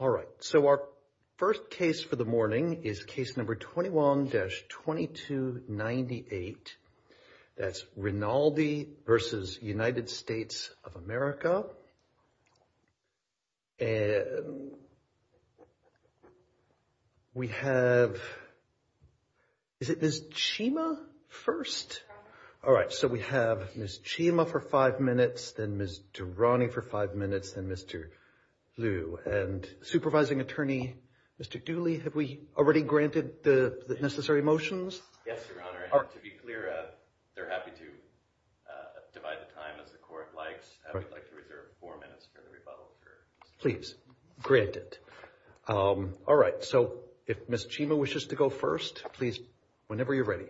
All right, so our first case for the morning is case number 21-2298. That's Rinaldi v. United States of America. We have, is it Ms. Chima first? All right, so we have Ms. Chima for five minutes, then Ms. Durrani for five minutes, then Mr. Liu, and supervising attorney, Mr. Dooley, have we already granted the necessary motions? Yes, Your Honor, and to be clear, they're happy to divide the time as the court likes. I would like to reserve four minutes for the rebuttal. Please, grant it. All right, so if Ms. Chima wishes to go first, please, whenever you're ready.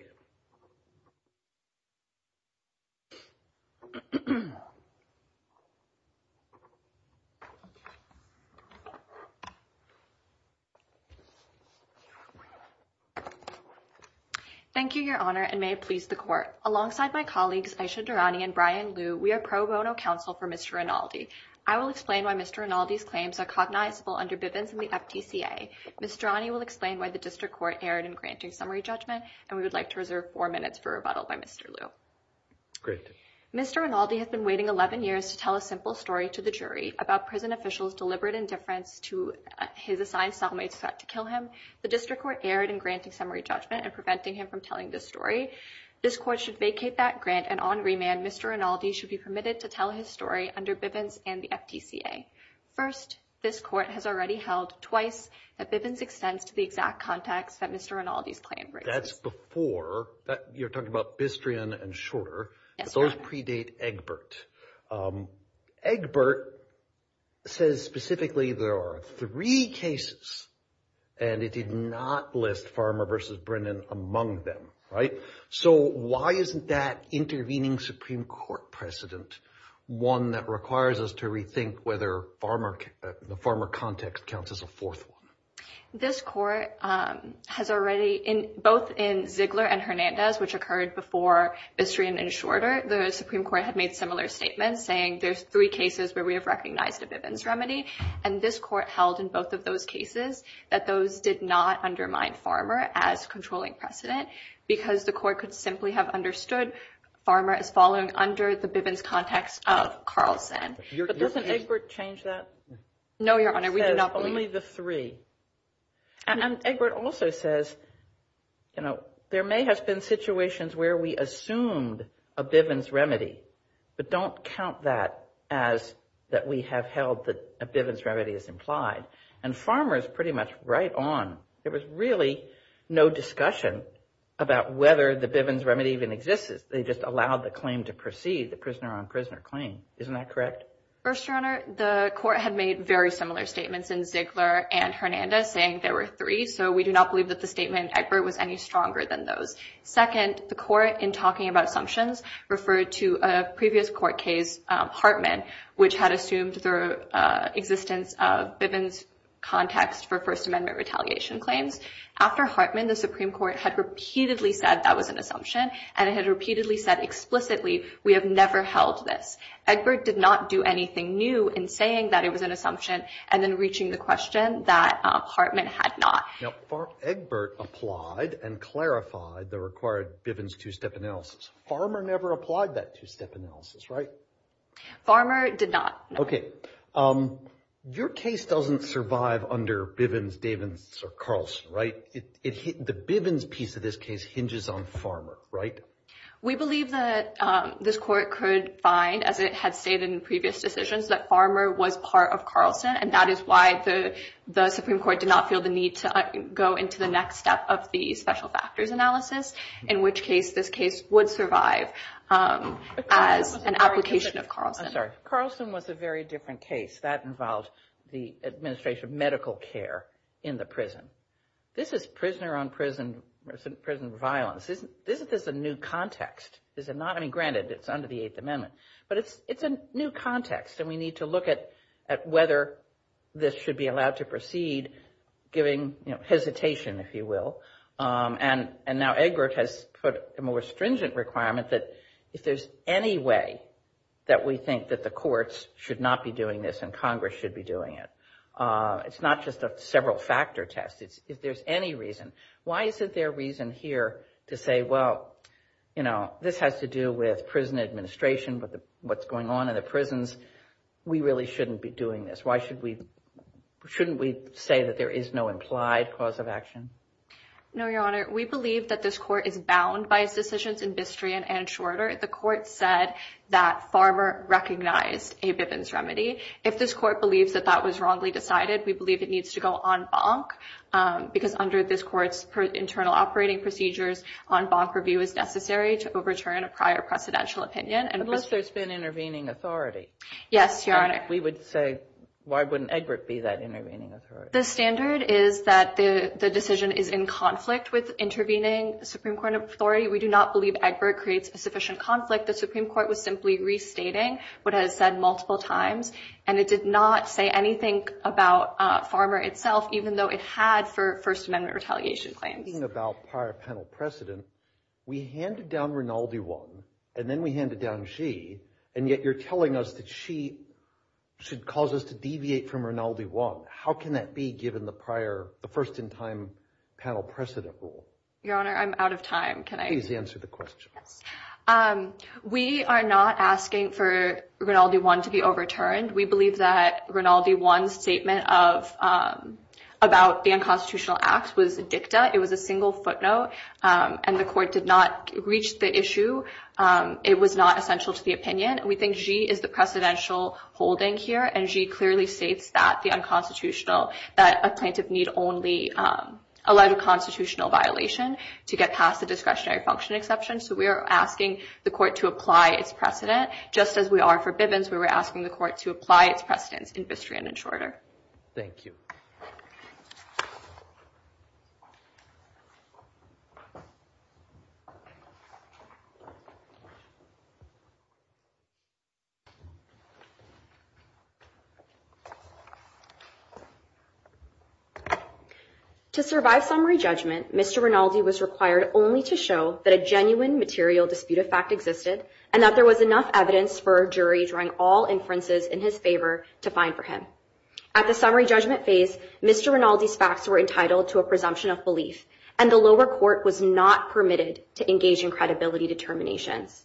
Thank you, Your Honor, and may it please the court. Alongside my colleagues, Ayesha Durrani and Brian Liu, we are pro bono counsel for Mr. Rinaldi. I will explain why Mr. Rinaldi's claims are cognizable under Bivens and the FTCA. Ms. Durrani will explain why the district court erred in granting summary judgment, and we would like to reserve four minutes for rebuttal by Mr. Liu. Great. Mr. Rinaldi has been waiting 11 years to tell a simple story to the jury about prison officials' deliberate indifference to his assigned cellmate's threat to kill him. The district court erred in granting summary judgment and preventing him from telling this story. This court should vacate that grant, and on remand, Mr. Rinaldi should be permitted to tell his story under Bivens and the FTCA. First, this court has already held twice that Bivens extends to the exact context that Mr. Rinaldi's claim raises. That's before, you're talking about Bistrian and Shorter. Those predate Egbert. Egbert says specifically there are three cases, and it did not list Farmer versus Brennan among them, right? So why isn't that intervening Supreme Court precedent one that requires us to rethink whether the Farmer context counts as a fourth one? This court has already, both in Ziegler and Hernandez, which occurred before Bistrian and Shorter, the Supreme Court had made similar statements, saying there's three cases where we have recognized a Bivens remedy, and this court held in both of those cases that those did not undermine Farmer as controlling precedent because the court could simply have understood Farmer as falling under the Bivens context of Carlson. But doesn't Egbert change that? No, Your Honor, we do not believe. He says only the three. And Egbert also says, you know, there may have been situations where we assumed a Bivens remedy, but don't count that as that we have held that a Bivens remedy is implied. And Farmer is pretty much right on. There was really no discussion about whether the Bivens remedy even exists. They just allowed the claim to proceed, the prisoner on prisoner claim. Isn't that correct? First, Your Honor, the court had made very similar statements in Ziegler and Hernandez, saying there were three. So we do not believe that the statement in Egbert was any stronger than those. Second, the court, in talking about assumptions, referred to a previous court case, Hartman, which had assumed the existence of Bivens context for First Amendment retaliation claims. After Hartman, the Supreme Court had repeatedly said that was an assumption, and it had repeatedly said explicitly, we have never held this. Egbert did not do anything new in saying that it was an assumption, and then reaching the question that Hartman had not. Now, Egbert applied and clarified the required Bivens two-step analysis. Farmer never applied that two-step analysis, right? Farmer did not, no. Okay, your case doesn't survive under Bivens, Davins, or Carlson, right? The Bivens piece of this case hinges on Farmer, right? We believe that this court could find, as it had stated in previous decisions, that Farmer was part of Carlson, and that is why the Supreme Court did not feel the need to go into the next step of the special factors analysis, in which case this case would survive as an application of Carlson. I'm sorry, Carlson was a very different case. That involved the administration of medical care in the prison. This is prisoner-on-prison violence. This is a new context. This is not, I mean, granted, it's under the Eighth Amendment, but it's a new context, and we need to look at whether this should be allowed to proceed, giving hesitation, if you will, and now Egbert has put a more stringent requirement that if there's any way that we think that the courts should not be doing this and Congress should be doing it, it's not just a several-factor test. If there's any reason, why is it their reason here to say, well, you know, this has to do with prison administration, with what's going on in the prisons. We really shouldn't be doing this. Why should we, shouldn't we say that there is no implied cause of action? No, Your Honor. We believe that this court is bound by its decisions in Bistrian and Shorter. The court said that Farmer recognized a Bivens remedy. If this court believes that that was wrongly decided, we believe it needs to go en banc, because under this court's internal operating procedures, en banc review is necessary to overturn a prior precedential opinion. Unless there's been intervening authority. Yes, Your Honor. We would say, why wouldn't Egbert be that intervening authority? The standard is that the decision is in conflict with intervening Supreme Court authority. We do not believe Egbert creates a sufficient conflict. The Supreme Court was simply restating what it has said multiple times, and it did not say anything about Farmer itself, even though it had for First Amendment retaliation claims. Speaking about prior penal precedent, we handed down Rinaldi one, and then we handed down Xi, and yet you're telling us that Xi should cause us to deviate from Rinaldi one. How can that be given the prior, the first-in-time penal precedent rule? Your Honor, I'm out of time. Can I? Please answer the question. Yes. We are not asking for Rinaldi one to be overturned. We believe that Rinaldi one's statement about the unconstitutional act was dicta. It was a single footnote, and the court did not reach the issue. It was not essential to the opinion. We think Xi is the precedential holding here, and Xi clearly states that the unconstitutional, that a plaintiff need only allowed a constitutional violation to get past the discretionary function exception, so we are asking the court to apply its precedent, just as we are for Bivens. We were asking the court to apply its precedence in Bistrian and Shorter. Thank you. To survive summary judgment, Mr. Rinaldi was required only to show that a genuine material dispute of fact existed, and that there was enough evidence for a jury drawing all inferences in his favor to find for him. At the summary judgment phase, Mr. Rinaldi's facts were entitled to a presumption of belief, and the lower court was not permitted to engage in credibility determinations.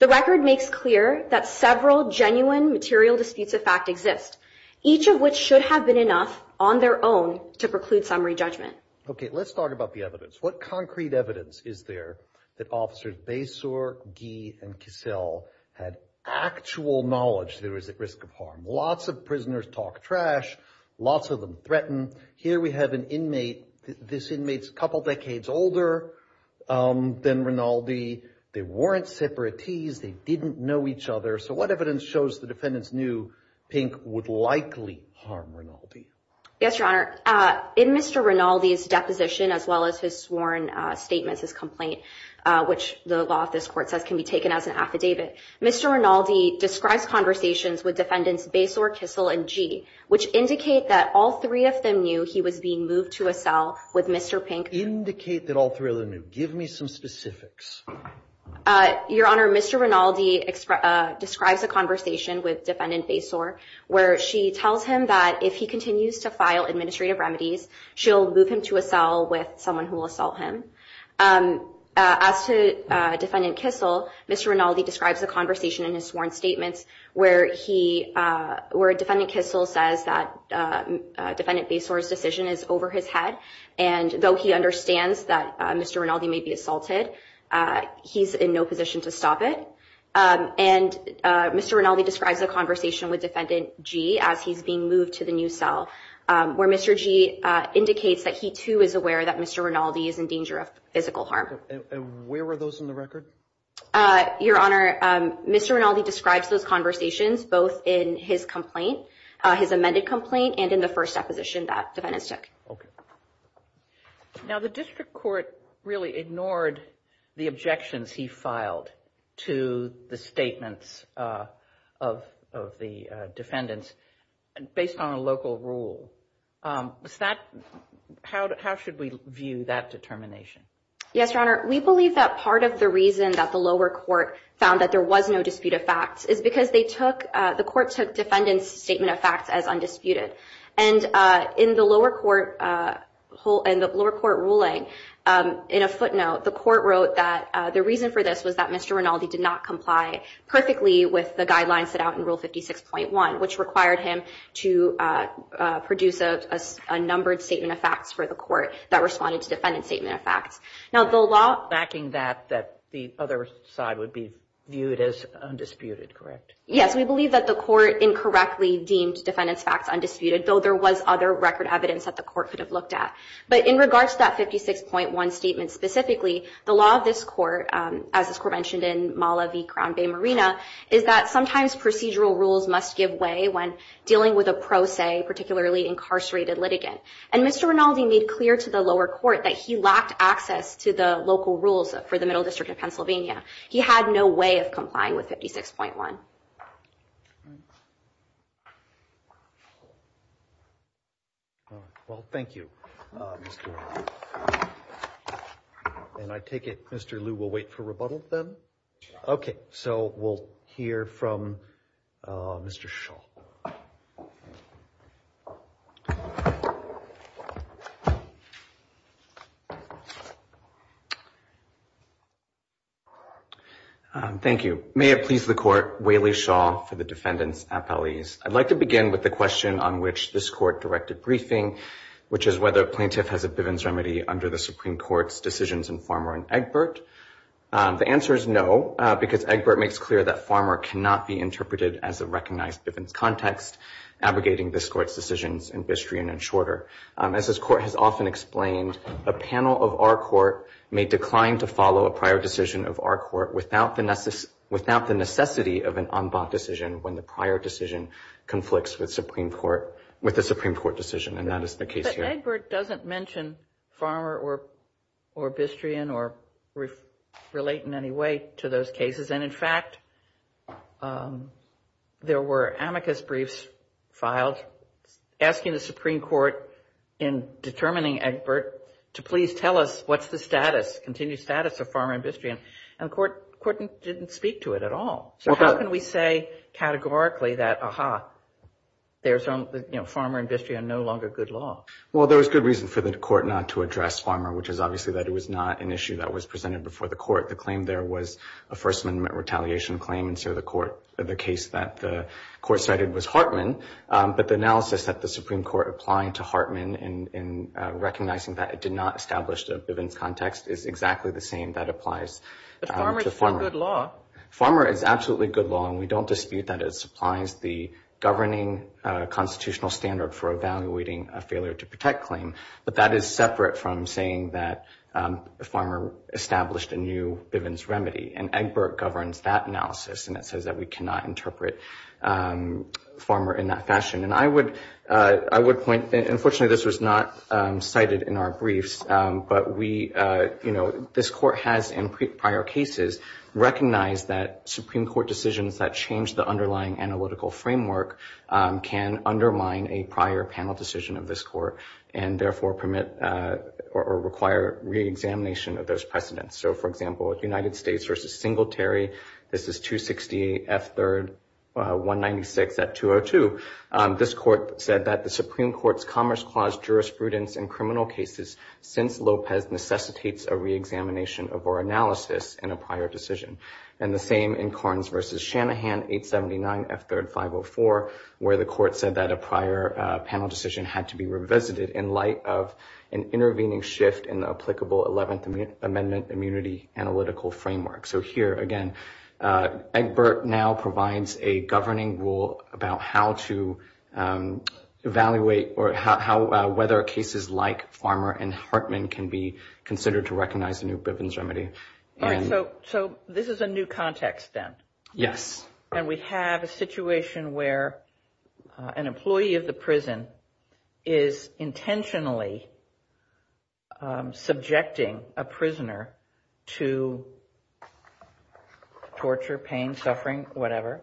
The record makes clear that several genuine material disputes of fact exist, each of which should have been enough on their own to preclude summary judgment. Okay, let's talk about the evidence. What concrete evidence is there that Officers Basor, Gee, and Kissel had actual knowledge there was at risk of harm? Lots of prisoners talk trash. Lots of them threaten. Here we have an inmate. This inmate's a couple decades older than Rinaldi. They weren't separate tees. They didn't know each other. So what evidence shows the defendants knew Pink would likely harm Rinaldi? Yes, Your Honor. In Mr. Rinaldi's deposition, as well as his sworn statements, his complaint, which the law of this court says can be taken as an affidavit, Mr. Rinaldi describes conversations with defendants Basor, Kissel, and Gee, which indicate that all three of them knew he was being moved to a cell with Mr. Pink. Indicate that all three of them knew. Give me some specifics. Your Honor, Mr. Rinaldi describes a conversation with defendant Basor where she tells him that if he continues to file administrative remedies, she'll move him to a cell with someone who will assault him. As to defendant Kissel, Mr. Rinaldi describes a conversation in his sworn statements where he, where defendant Kissel says that defendant Basor's decision is over his head. And though he understands that Mr. Rinaldi may be assaulted, he's in no position to stop it. And Mr. Rinaldi describes a conversation with defendant Gee as he's being moved to the new cell, where Mr. Gee indicates that he too is aware that Mr. Rinaldi is in danger of physical harm. And where were those in the record? Your Honor, Mr. Rinaldi describes those conversations both in his complaint, his amended complaint, and in the first deposition that defendants took. Okay. Now, the district court really ignored the objections he filed to the statements of the defendants based on a local rule. How should we view that determination? Yes, Your Honor. We believe that part of the reason that the lower court found that there was no dispute of facts is because the court took defendant's statement of facts as undisputed. And in the lower court ruling, in a footnote, the court wrote that the reason for this was that Mr. Rinaldi did not comply perfectly with the guidelines set out in Rule 56.1, which required him to produce a numbered statement of facts for the court that responded to defendant's statement of facts. Now, the law- Backing that, that the other side would be viewed as undisputed, correct? Yes, we believe that the court incorrectly deemed defendant's facts undisputed, though there was other record evidence that the court could have looked at. But in regards to that 56.1 statement specifically, the law of this court, as this court mentioned in Mala v. Crown Bay Marina, is that sometimes procedural rules must give way when dealing with a pro se, particularly incarcerated litigant. And Mr. Rinaldi made clear to the lower court that he lacked access to the local rules for the Middle District of Pennsylvania. He had no way of complying with 56.1. Well, thank you. And I take it Mr. Liu will wait for rebuttal then? Okay, so we'll hear from Mr. Shaw. Thank you. May it please the court, Waley Shaw for the defendants' appellees. I'd like to begin with the question on which this court directed briefing, which is whether a plaintiff has a Bivens remedy under the Supreme Court's decisions in Farmer and Egbert. The answer is no, because Egbert makes clear that Farmer cannot be interpreted as a recognized Bivens context, abrogating this court's decisions in Bistrian and Shorter. As this court has often explained, a panel of our court may decline to follow a prior decision of our court without the necessity of an en bas decision when the prior decision conflicts with the Supreme Court decision, and that is the case here. But Egbert doesn't mention Farmer or Bistrian or relate in any way to those cases. And in fact, there were amicus briefs filed asking the Supreme Court in determining Egbert to please tell us what's the status, continued status of Farmer and Bistrian, and the court didn't speak to it at all. So how can we say categorically that, aha, there's Farmer and Bistrian no longer good law? Well, there was good reason for the court not to address Farmer, which is obviously that it was not an issue that was presented before the court. The claim there was a First Amendment retaliation claim, and so the court, the case that the court cited was Hartman, but the analysis that the Supreme Court applying to Hartman in recognizing that it did not establish the Bivens context is exactly the same that applies to Farmer. But Farmer is still good law. Farmer is absolutely good law, and we don't dispute that it supplies the governing constitutional standard for evaluating a failure to protect claim, but that is separate from saying that Farmer established a new Bivens remedy, and Egbert governs that analysis, and it says that we cannot interpret Farmer in that fashion. And I would point, and unfortunately this was not cited in our briefs, but we, you know, this court has in prior cases recognized that Supreme Court decisions that change the underlying analytical framework can undermine a prior panel decision of this court, and therefore permit or require reexamination of those precedents. So for example, if United States versus Singletary, this is 260 F3rd 196 at 202, this court said that the Supreme Court's Commerce Clause jurisprudence in criminal cases since Lopez necessitates a reexamination of our analysis in a prior decision. And the same in Carnes versus Shanahan 879 F3rd 504, where the court said that a prior panel decision had to be revisited in light of an intervening shift in the applicable 11th Amendment immunity analytical framework. So here again, Egbert now provides a governing rule about how to evaluate or how whether cases like Farmer and Hartman can be considered to recognize the new Bivens remedy. All right, so this is a new context then. Yes. And we have a situation where an employee of the prison is intentionally subjecting a prisoner to torture, pain, suffering, whatever,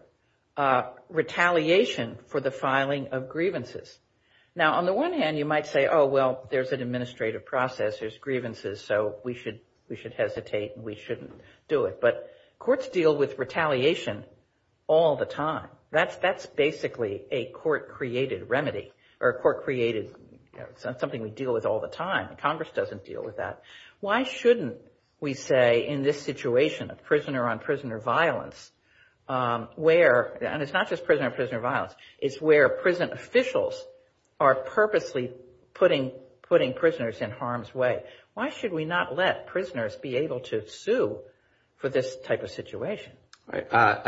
retaliation for the filing of grievances. Now, on the one hand, you might say, oh, well, there's an administrative process, there's grievances, so we should hesitate and we shouldn't do it. But courts deal with retaliation all the time. That's basically a court-created remedy or court-created, something we deal with all the time. Congress doesn't deal with that. Why shouldn't we say in this situation of prisoner-on-prisoner violence, where, and it's not just prisoner-on-prisoner violence, it's where prison officials are purposely putting prisoners in harm's way. Why should we not let prisoners be able to sue for this type of situation? All right,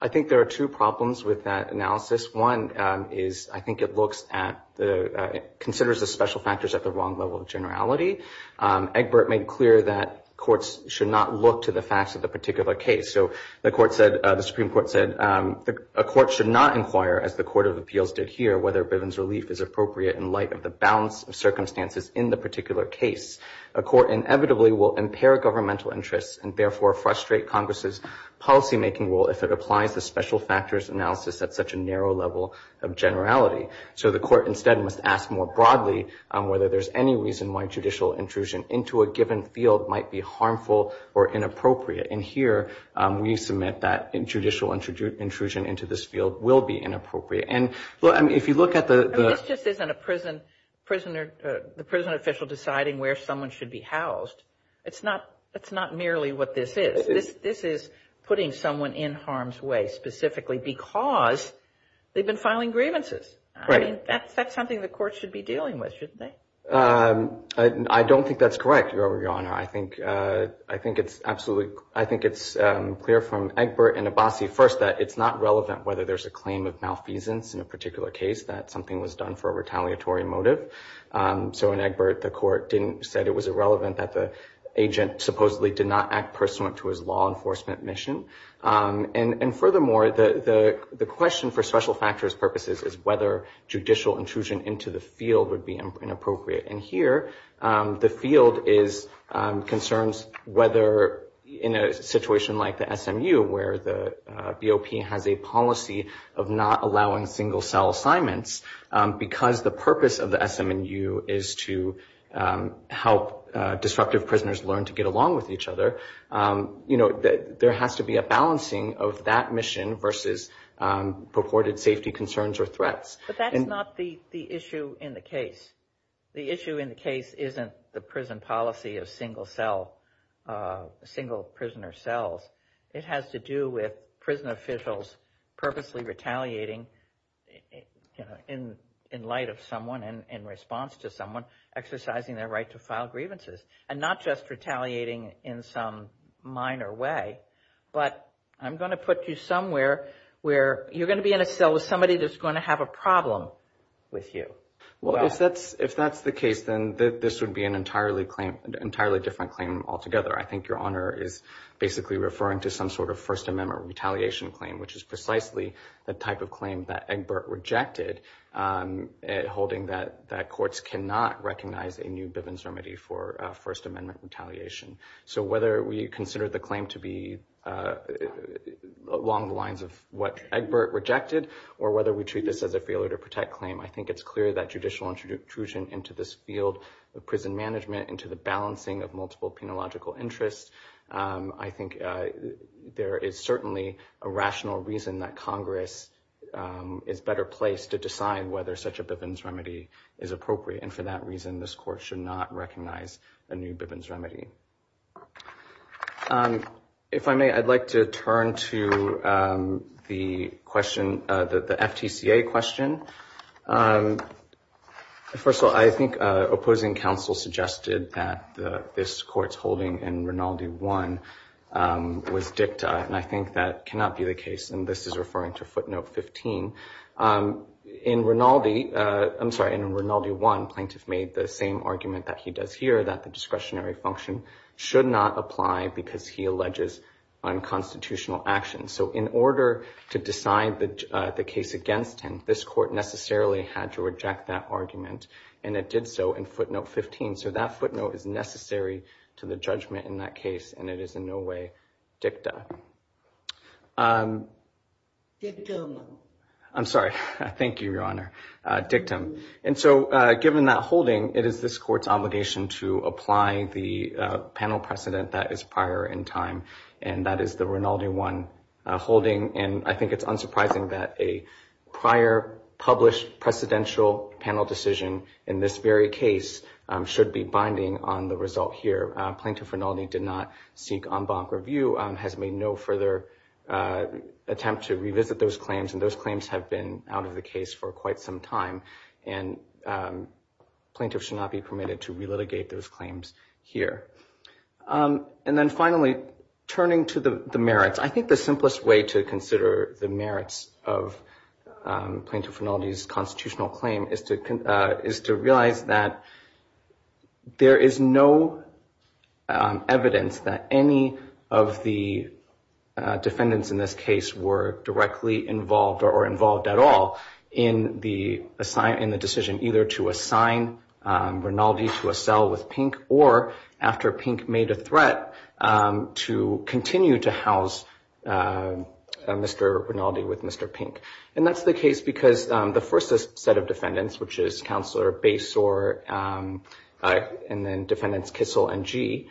I think there are two problems with that analysis. One is, I think it looks at the, considers the special factors at the wrong level of generality. Egbert made clear that courts should not look to the facts of the particular case. So the Supreme Court said, a court should not inquire, as the Court of Appeals did here, whether Bivens relief is appropriate in light of the balance of circumstances in the particular case. A court inevitably will impair governmental interests and therefore frustrate Congress's policymaking role if it applies the special factors analysis at such a narrow level of generality. So the court instead must ask more broadly on whether there's any reason why judicial intrusion into a given field might be harmful or inappropriate. And here, we submit that judicial intrusion into this field will be inappropriate. And if you look at the- I mean, this just isn't a prisoner, the prison official deciding where someone should be housed. It's not merely what this is. This is putting someone in harm's way specifically because they've been filing grievances. I mean, that's something the court should be dealing with, shouldn't they? I don't think that's correct, Your Honor. I think it's absolutely- I think it's clear from Egbert and Abbasi first that it's not relevant whether there's a claim of malfeasance in a particular case, that something was done for a retaliatory motive. So in Egbert, the court said it was irrelevant that the agent supposedly did not act pursuant to his law enforcement mission. And furthermore, the question for special factors purposes is whether judicial intrusion into the field would be inappropriate. And here, the field concerns whether, in a situation like the SMU, where the BOP has a policy of not allowing single cell assignments, because the purpose of the SMU is to help disruptive prisoners learn to get along with each other, you know, there has to be a balancing of that mission versus purported safety concerns or threats. But that's not the issue in the case. The issue in the case isn't the prison policy of single cell, single prisoner cells. It has to do with prison officials purposely retaliating in light of someone and in response to someone exercising their right to file grievances. And not just retaliating in some minor way, but I'm gonna put you somewhere where you're gonna be in a cell with somebody that's gonna have a problem with you. Well, if that's the case, then this would be an entirely different claim altogether. I think Your Honor is basically referring to some sort of First Amendment retaliation claim, which is precisely the type of claim that Egbert rejected, holding that courts cannot recognize a new Bivens remedy for First Amendment retaliation. So whether we consider the claim to be along the lines of what Egbert rejected, or whether we treat this as a failure to protect claim, I think it's clear that judicial intrusion into this field of prison management, into the balancing of multiple penological interests, I think there is certainly a rational reason that Congress is better placed to decide whether such a Bivens remedy is appropriate. And for that reason, this court should not recognize a new Bivens remedy. If I may, I'd like to turn to the FTCA question. First of all, I think opposing counsel suggested that this court's holding in Rinaldi one was dicta, and I think that cannot be the case, and this is referring to footnote 15. In Rinaldi, I'm sorry, in Rinaldi one, plaintiff made the same argument that he does here, that the discretionary function should not apply because he alleges unconstitutional action. So in order to decide the case against him, this court necessarily had to reject that argument, and it did so in footnote 15. So that footnote is necessary to the judgment in that case, and it is in no way dicta. Dictum. I'm sorry, thank you, Your Honor, dictum. And so given that holding, it is this court's obligation to apply the panel precedent that is prior in time, and that is the Rinaldi one holding, and I think it's unsurprising that a prior published precedential panel decision in this very case should be binding on the result here. Plaintiff Rinaldi did not seek en banc review, has made no further attempt to revisit those claims, and those claims have been out of the case for quite some time, and plaintiff should not be permitted to relitigate those claims here. And then finally, turning to the merits, I think the simplest way to consider the merits of Plaintiff Rinaldi's constitutional claim is to realize that there is no evidence that any of the defendants in this case were directly involved or involved at all in the decision either to assign Rinaldi to a cell with Pink, or after Pink made a threat, to continue to house Mr. Rinaldi with Mr. Pink. And that's the case because the first set of defendants, which is Counselor Basore, and then defendants Kissel and Gee,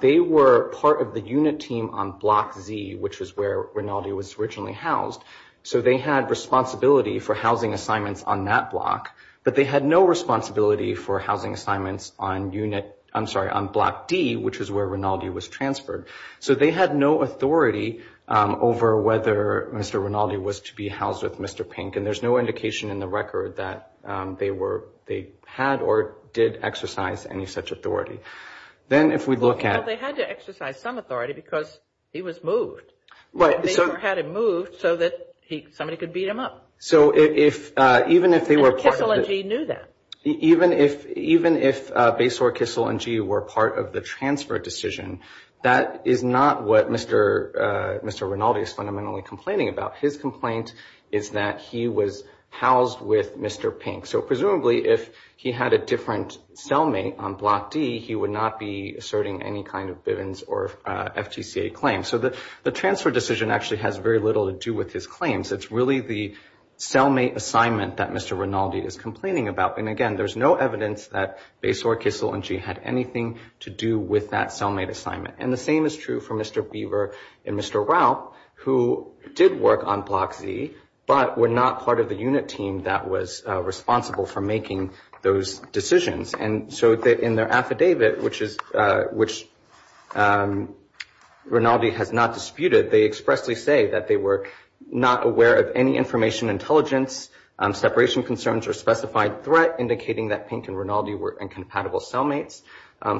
they were part of the unit team on Block Z, which is where Rinaldi was originally housed, so they had responsibility for housing assignments on that block, but they had no responsibility for housing assignments on unit, I'm sorry, on Block D, which is where Rinaldi was transferred. So they had no authority over whether Mr. Rinaldi was to be housed with Mr. Pink, and there's no indication in the record that they had or did exercise any such authority. Then if we look at- Well, they had to exercise some authority because he was moved. Basore had him moved so that somebody could beat him up. So even if they were part of the- And Kissel and Gee knew that. Even if Basore, Kissel, and Gee were part of the transfer decision, that is not what Mr. Rinaldi is fundamentally complaining about. His complaint is that he was housed with Mr. Pink. So presumably, if he had a different cellmate on Block D, he would not be asserting any kind of Bivens or FGCA claim. So the transfer decision actually has very little to do with his claims. It's really the cellmate assignment that Mr. Rinaldi is complaining about. And again, there's no evidence that Basore, Kissel, and Gee had anything to do with that cellmate assignment. And the same is true for Mr. Beaver and Mr. Raup, who did work on Block Z, but were not part of the unit team that was responsible for making those decisions. And so in their affidavit, which Rinaldi has not disputed, they expressly say that they were not aware of any information intelligence, separation concerns, or specified threat indicating that Pink and Rinaldi were incompatible cellmates.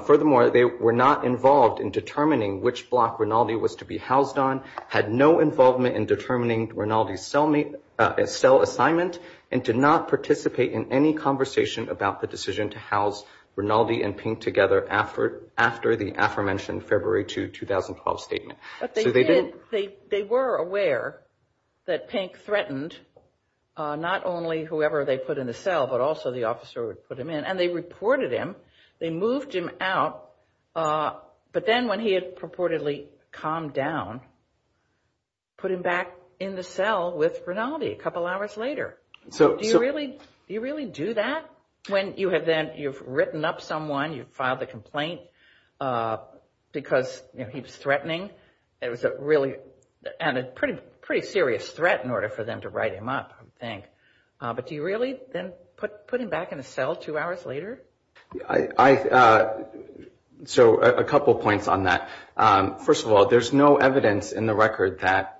Furthermore, they were not involved in determining which block Rinaldi was to be housed on, had no involvement in determining Rinaldi's cell assignment, and did not participate in any conversation about the decision to house Rinaldi and Pink together after the aforementioned February 2, 2012 statement. So they didn't- But they were aware that Pink threatened not only whoever they put in the cell, but also the officer who put him in. And they reported him. They moved him out. But then when he had purportedly calmed down, put him back in the cell with Rinaldi a couple hours later. So do you really do that? When you have then, you've written up someone, you've filed a complaint because he was threatening. It was a really, and a pretty serious threat in order for them to write him up, I would think. But do you really then put him back in the cell two hours later? So a couple points on that. First of all, there's no evidence in the record that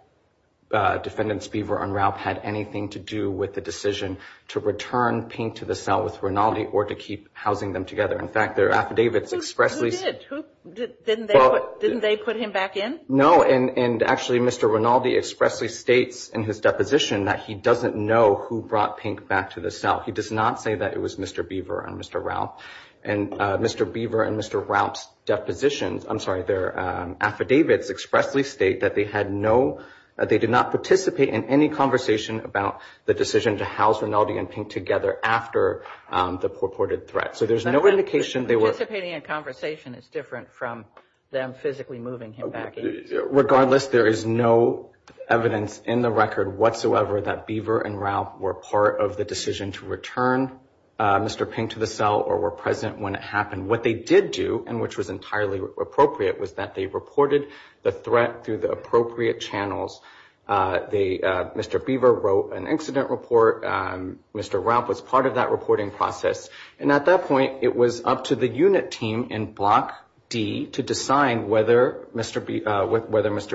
Defendants Beaver and Ralph had anything to do with the decision to return Pink to the cell with Rinaldi or to keep housing them together. In fact, their affidavits expressly- Who did? Didn't they put him back in? No, and actually Mr. Rinaldi expressly states in his deposition that he doesn't know who brought Pink back to the cell. He does not say that it was Mr. Beaver and Mr. Ralph. And Mr. Beaver and Mr. Ralph's depositions, I'm sorry, their affidavits expressly state that they had no, that they did not participate in any conversation about the decision to house Rinaldi and Pink together after the purported threat. So there's no indication they were- Participating in a conversation is different from them physically moving him back in. Regardless, there is no evidence in the record whatsoever that Beaver and Ralph were part of the decision to return Mr. Pink to the cell or were present when it happened. What they did do, and which was entirely appropriate, was that they reported the threat through the appropriate channels. Mr. Beaver wrote an incident report. Mr. Ralph was part of that reporting process. And at that point, it was up to the unit team in Block D to decide whether Mr.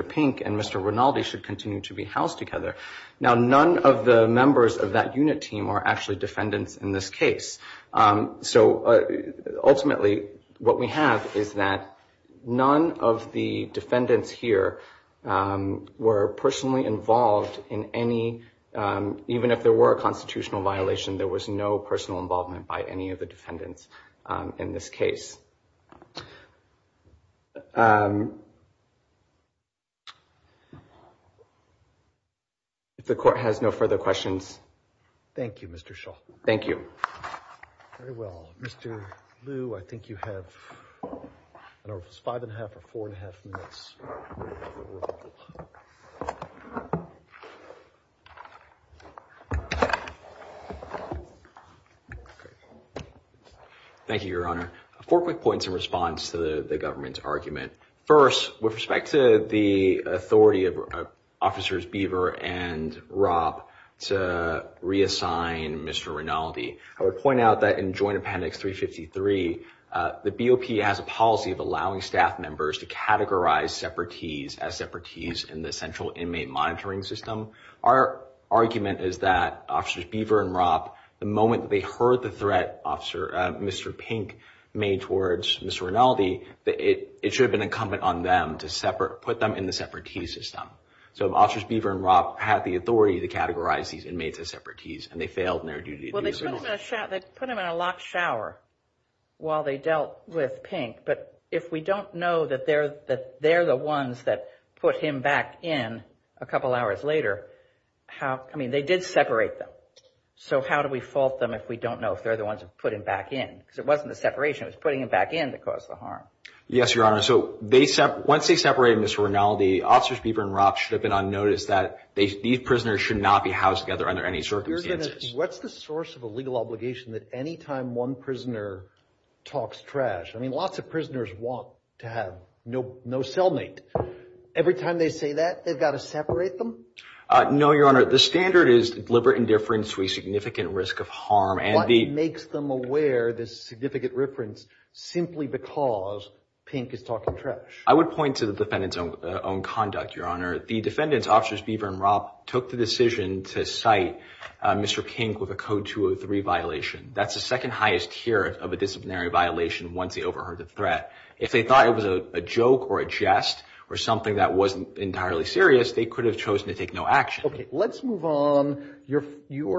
Pink and Mr. Rinaldi should continue to be housed together. Now, none of the members of that unit team are actually defendants in this case. So ultimately, what we have is that none of the defendants here were personally involved in any, even if there were a constitutional violation, there was no personal involvement by any of the defendants in this case. If the court has no further questions. Thank you, Mr. Shaw. Thank you. Very well. Mr. Liu, I think you have five and a half or four and a half minutes. Okay. Thank you, Your Honor. Four quick points in response to the government's argument. First, with respect to the authority of Officers Beaver and Ropp to reassign Mr. Rinaldi, I would point out that in Joint Appendix 353, the BOP has a policy of allowing staff members to categorize separatees as separatees in the Central Inmate Monitoring System. Our argument is that Officers Beaver and Ropp, the moment they heard the threat Mr. Pink made towards Mr. Rinaldi, that it should have been incumbent on them to put them in the separatee system. So Officers Beaver and Ropp had the authority to categorize these inmates as separatees and they failed in their duty to do so. Well, they put him in a locked shower while they dealt with Pink, but if we don't know that they're the ones that put him back in a couple hours later, how, I mean, they did separate them. So how do we fault them if we don't know if they're the ones that put him back in? Because it wasn't the separation, it was putting him back in that caused the harm. Yes, Your Honor, so once they separated Mr. Rinaldi, Officers Beaver and Ropp should have been on notice that these prisoners should not be housed together under any circumstances. What's the source of a legal obligation that any time one prisoner talks trash, I mean, lots of prisoners want to have no cellmate. Every time they say that, they've got to separate them? No, Your Honor, the standard is deliberate indifference to a significant risk of harm. What makes them aware this significant reference simply because Pink is talking trash? I would point to the defendant's own conduct, Your Honor. The defendant's, Officers Beaver and Ropp, took the decision to cite Mr. Pink with a Code 203 violation. That's the second highest tier of a disciplinary violation once they overheard the threat. If they thought it was a joke or a jest or something that wasn't entirely serious, they could have chosen to take no action. Okay, let's move on. Your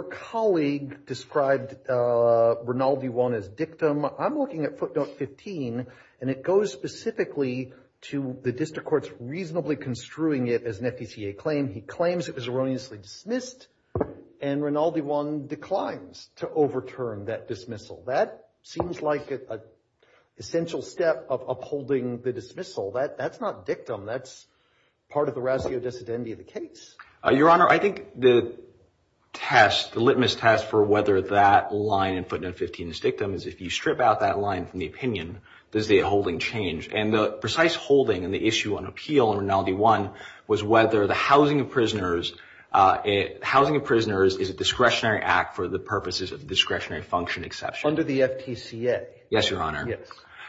colleague described Rinaldi one as dictum. I'm looking at footnote 15 and it goes specifically to the district court's reasonably construing it as an FECA claim. He claims it was erroneously dismissed and Rinaldi one declines to overturn that dismissal. That seems like an essential step of upholding the dismissal. That's not dictum. That's part of the ratio dissidentity of the case. Your Honor, I think the test, the litmus test for whether that line in footnote 15 is dictum is if you strip out that line from the opinion, does the holding change? And the precise holding and the issue on appeal in Rinaldi one was whether the housing of prisoners, housing of prisoners is a discretionary act for the purposes of discretionary function exception. Under the FTCA. Yes, Your Honor.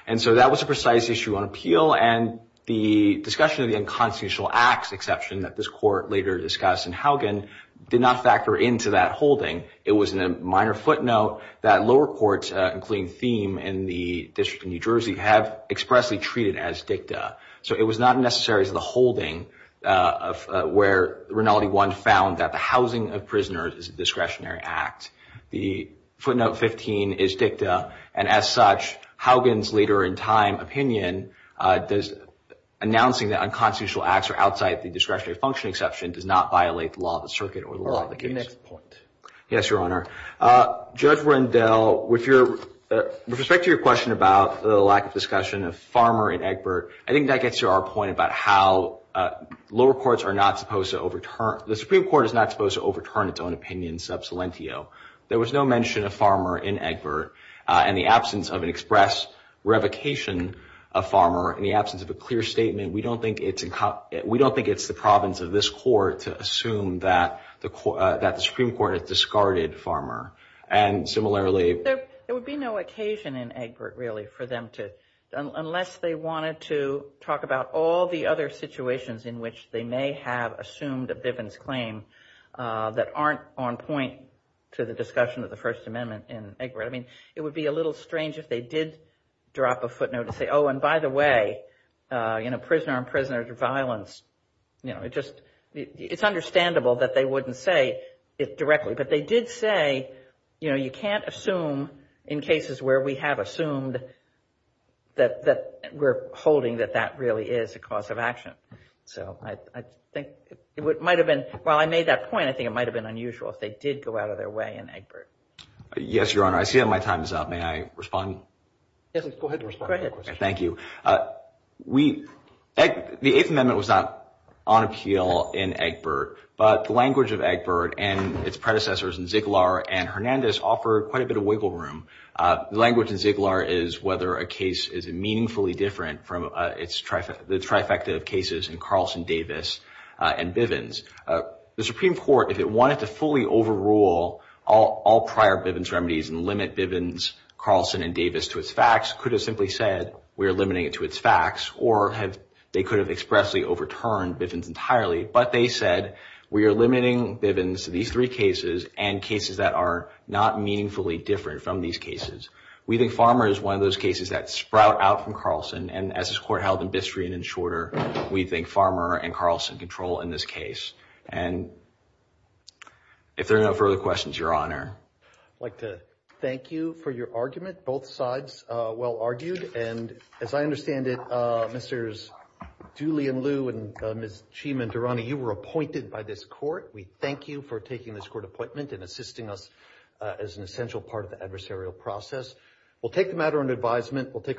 And so that was a precise issue on appeal and the discussion of the unconstitutional acts exception that this court later discussed in Haugen did not factor into that holding. It was in a minor footnote that lower courts, including Thieme and the District of New Jersey have expressly treated as dicta. So it was not necessary as the holding where Rinaldi one found that the housing of prisoners is a discretionary act. The footnote 15 is dicta. And as such, Haugen's later in time opinion announcing that unconstitutional acts are outside the discretionary function exception does not violate the law of the circuit or the law of the case. Your next point. Yes, Your Honor. Judge Rendell, with respect to your question about the lack of discussion of Farmer and Egbert, I think that gets to our point about how lower courts are not supposed to overturn, the Supreme Court is not supposed to overturn its own opinion sub salientio. There was no mention of Farmer in Egbert and the absence of an express revocation of Farmer in the absence of a clear statement, we don't think it's the province of this court to assume that the Supreme Court has discarded Farmer. And similarly- There would be no occasion in Egbert really for them to, unless they wanted to talk about all the other situations in which they may have assumed a Bivens claim that aren't on point to the discussion of the First Amendment in Egbert. I mean, it would be a little strange if they did drop a footnote and say, oh, and by the way, you know, prisoner-on-prisoner violence, you know, it just, it's understandable that they wouldn't say it directly. But they did say, you know, you can't assume in cases where we have assumed that we're holding that that really is a cause of action. So I think it might've been, while I made that point, I think it might've been unusual if they did go out of their way in Egbert. Yes, Your Honor. I see that my time is up. May I respond? Yes, please go ahead and respond. Go ahead. Thank you. The Eighth Amendment was not on appeal in Egbert, but the language of Egbert and its predecessors in Ziegler and Hernandez offered quite a bit of wiggle room. The language in Ziegler is whether a case is meaningfully different from the trifecta of cases in Carlson, Davis, and Bivens. The Supreme Court, if it wanted to fully overrule all prior Bivens remedies and limit Bivens, Carlson, and Davis to its facts, could have simply said, we are limiting it to its facts, or they could have expressly overturned Bivens entirely, but they said, we are limiting Bivens to these three cases and cases that are not meaningfully different from these cases. We think Farmer is one of those cases that sprout out from Carlson, and as this Court held in Bistre and in Shorter, we think Farmer and Carlson control in this case. And if there are no further questions, Your Honor. I'd like to thank you for your argument. Both sides well argued, and as I understand it, Mr. Dooley and Liu and Ms. Chima and Durrani, you were appointed by this Court. We thank you for taking this Court appointment and assisting us as an essential part of the adversarial process. We'll take the matter under advisement.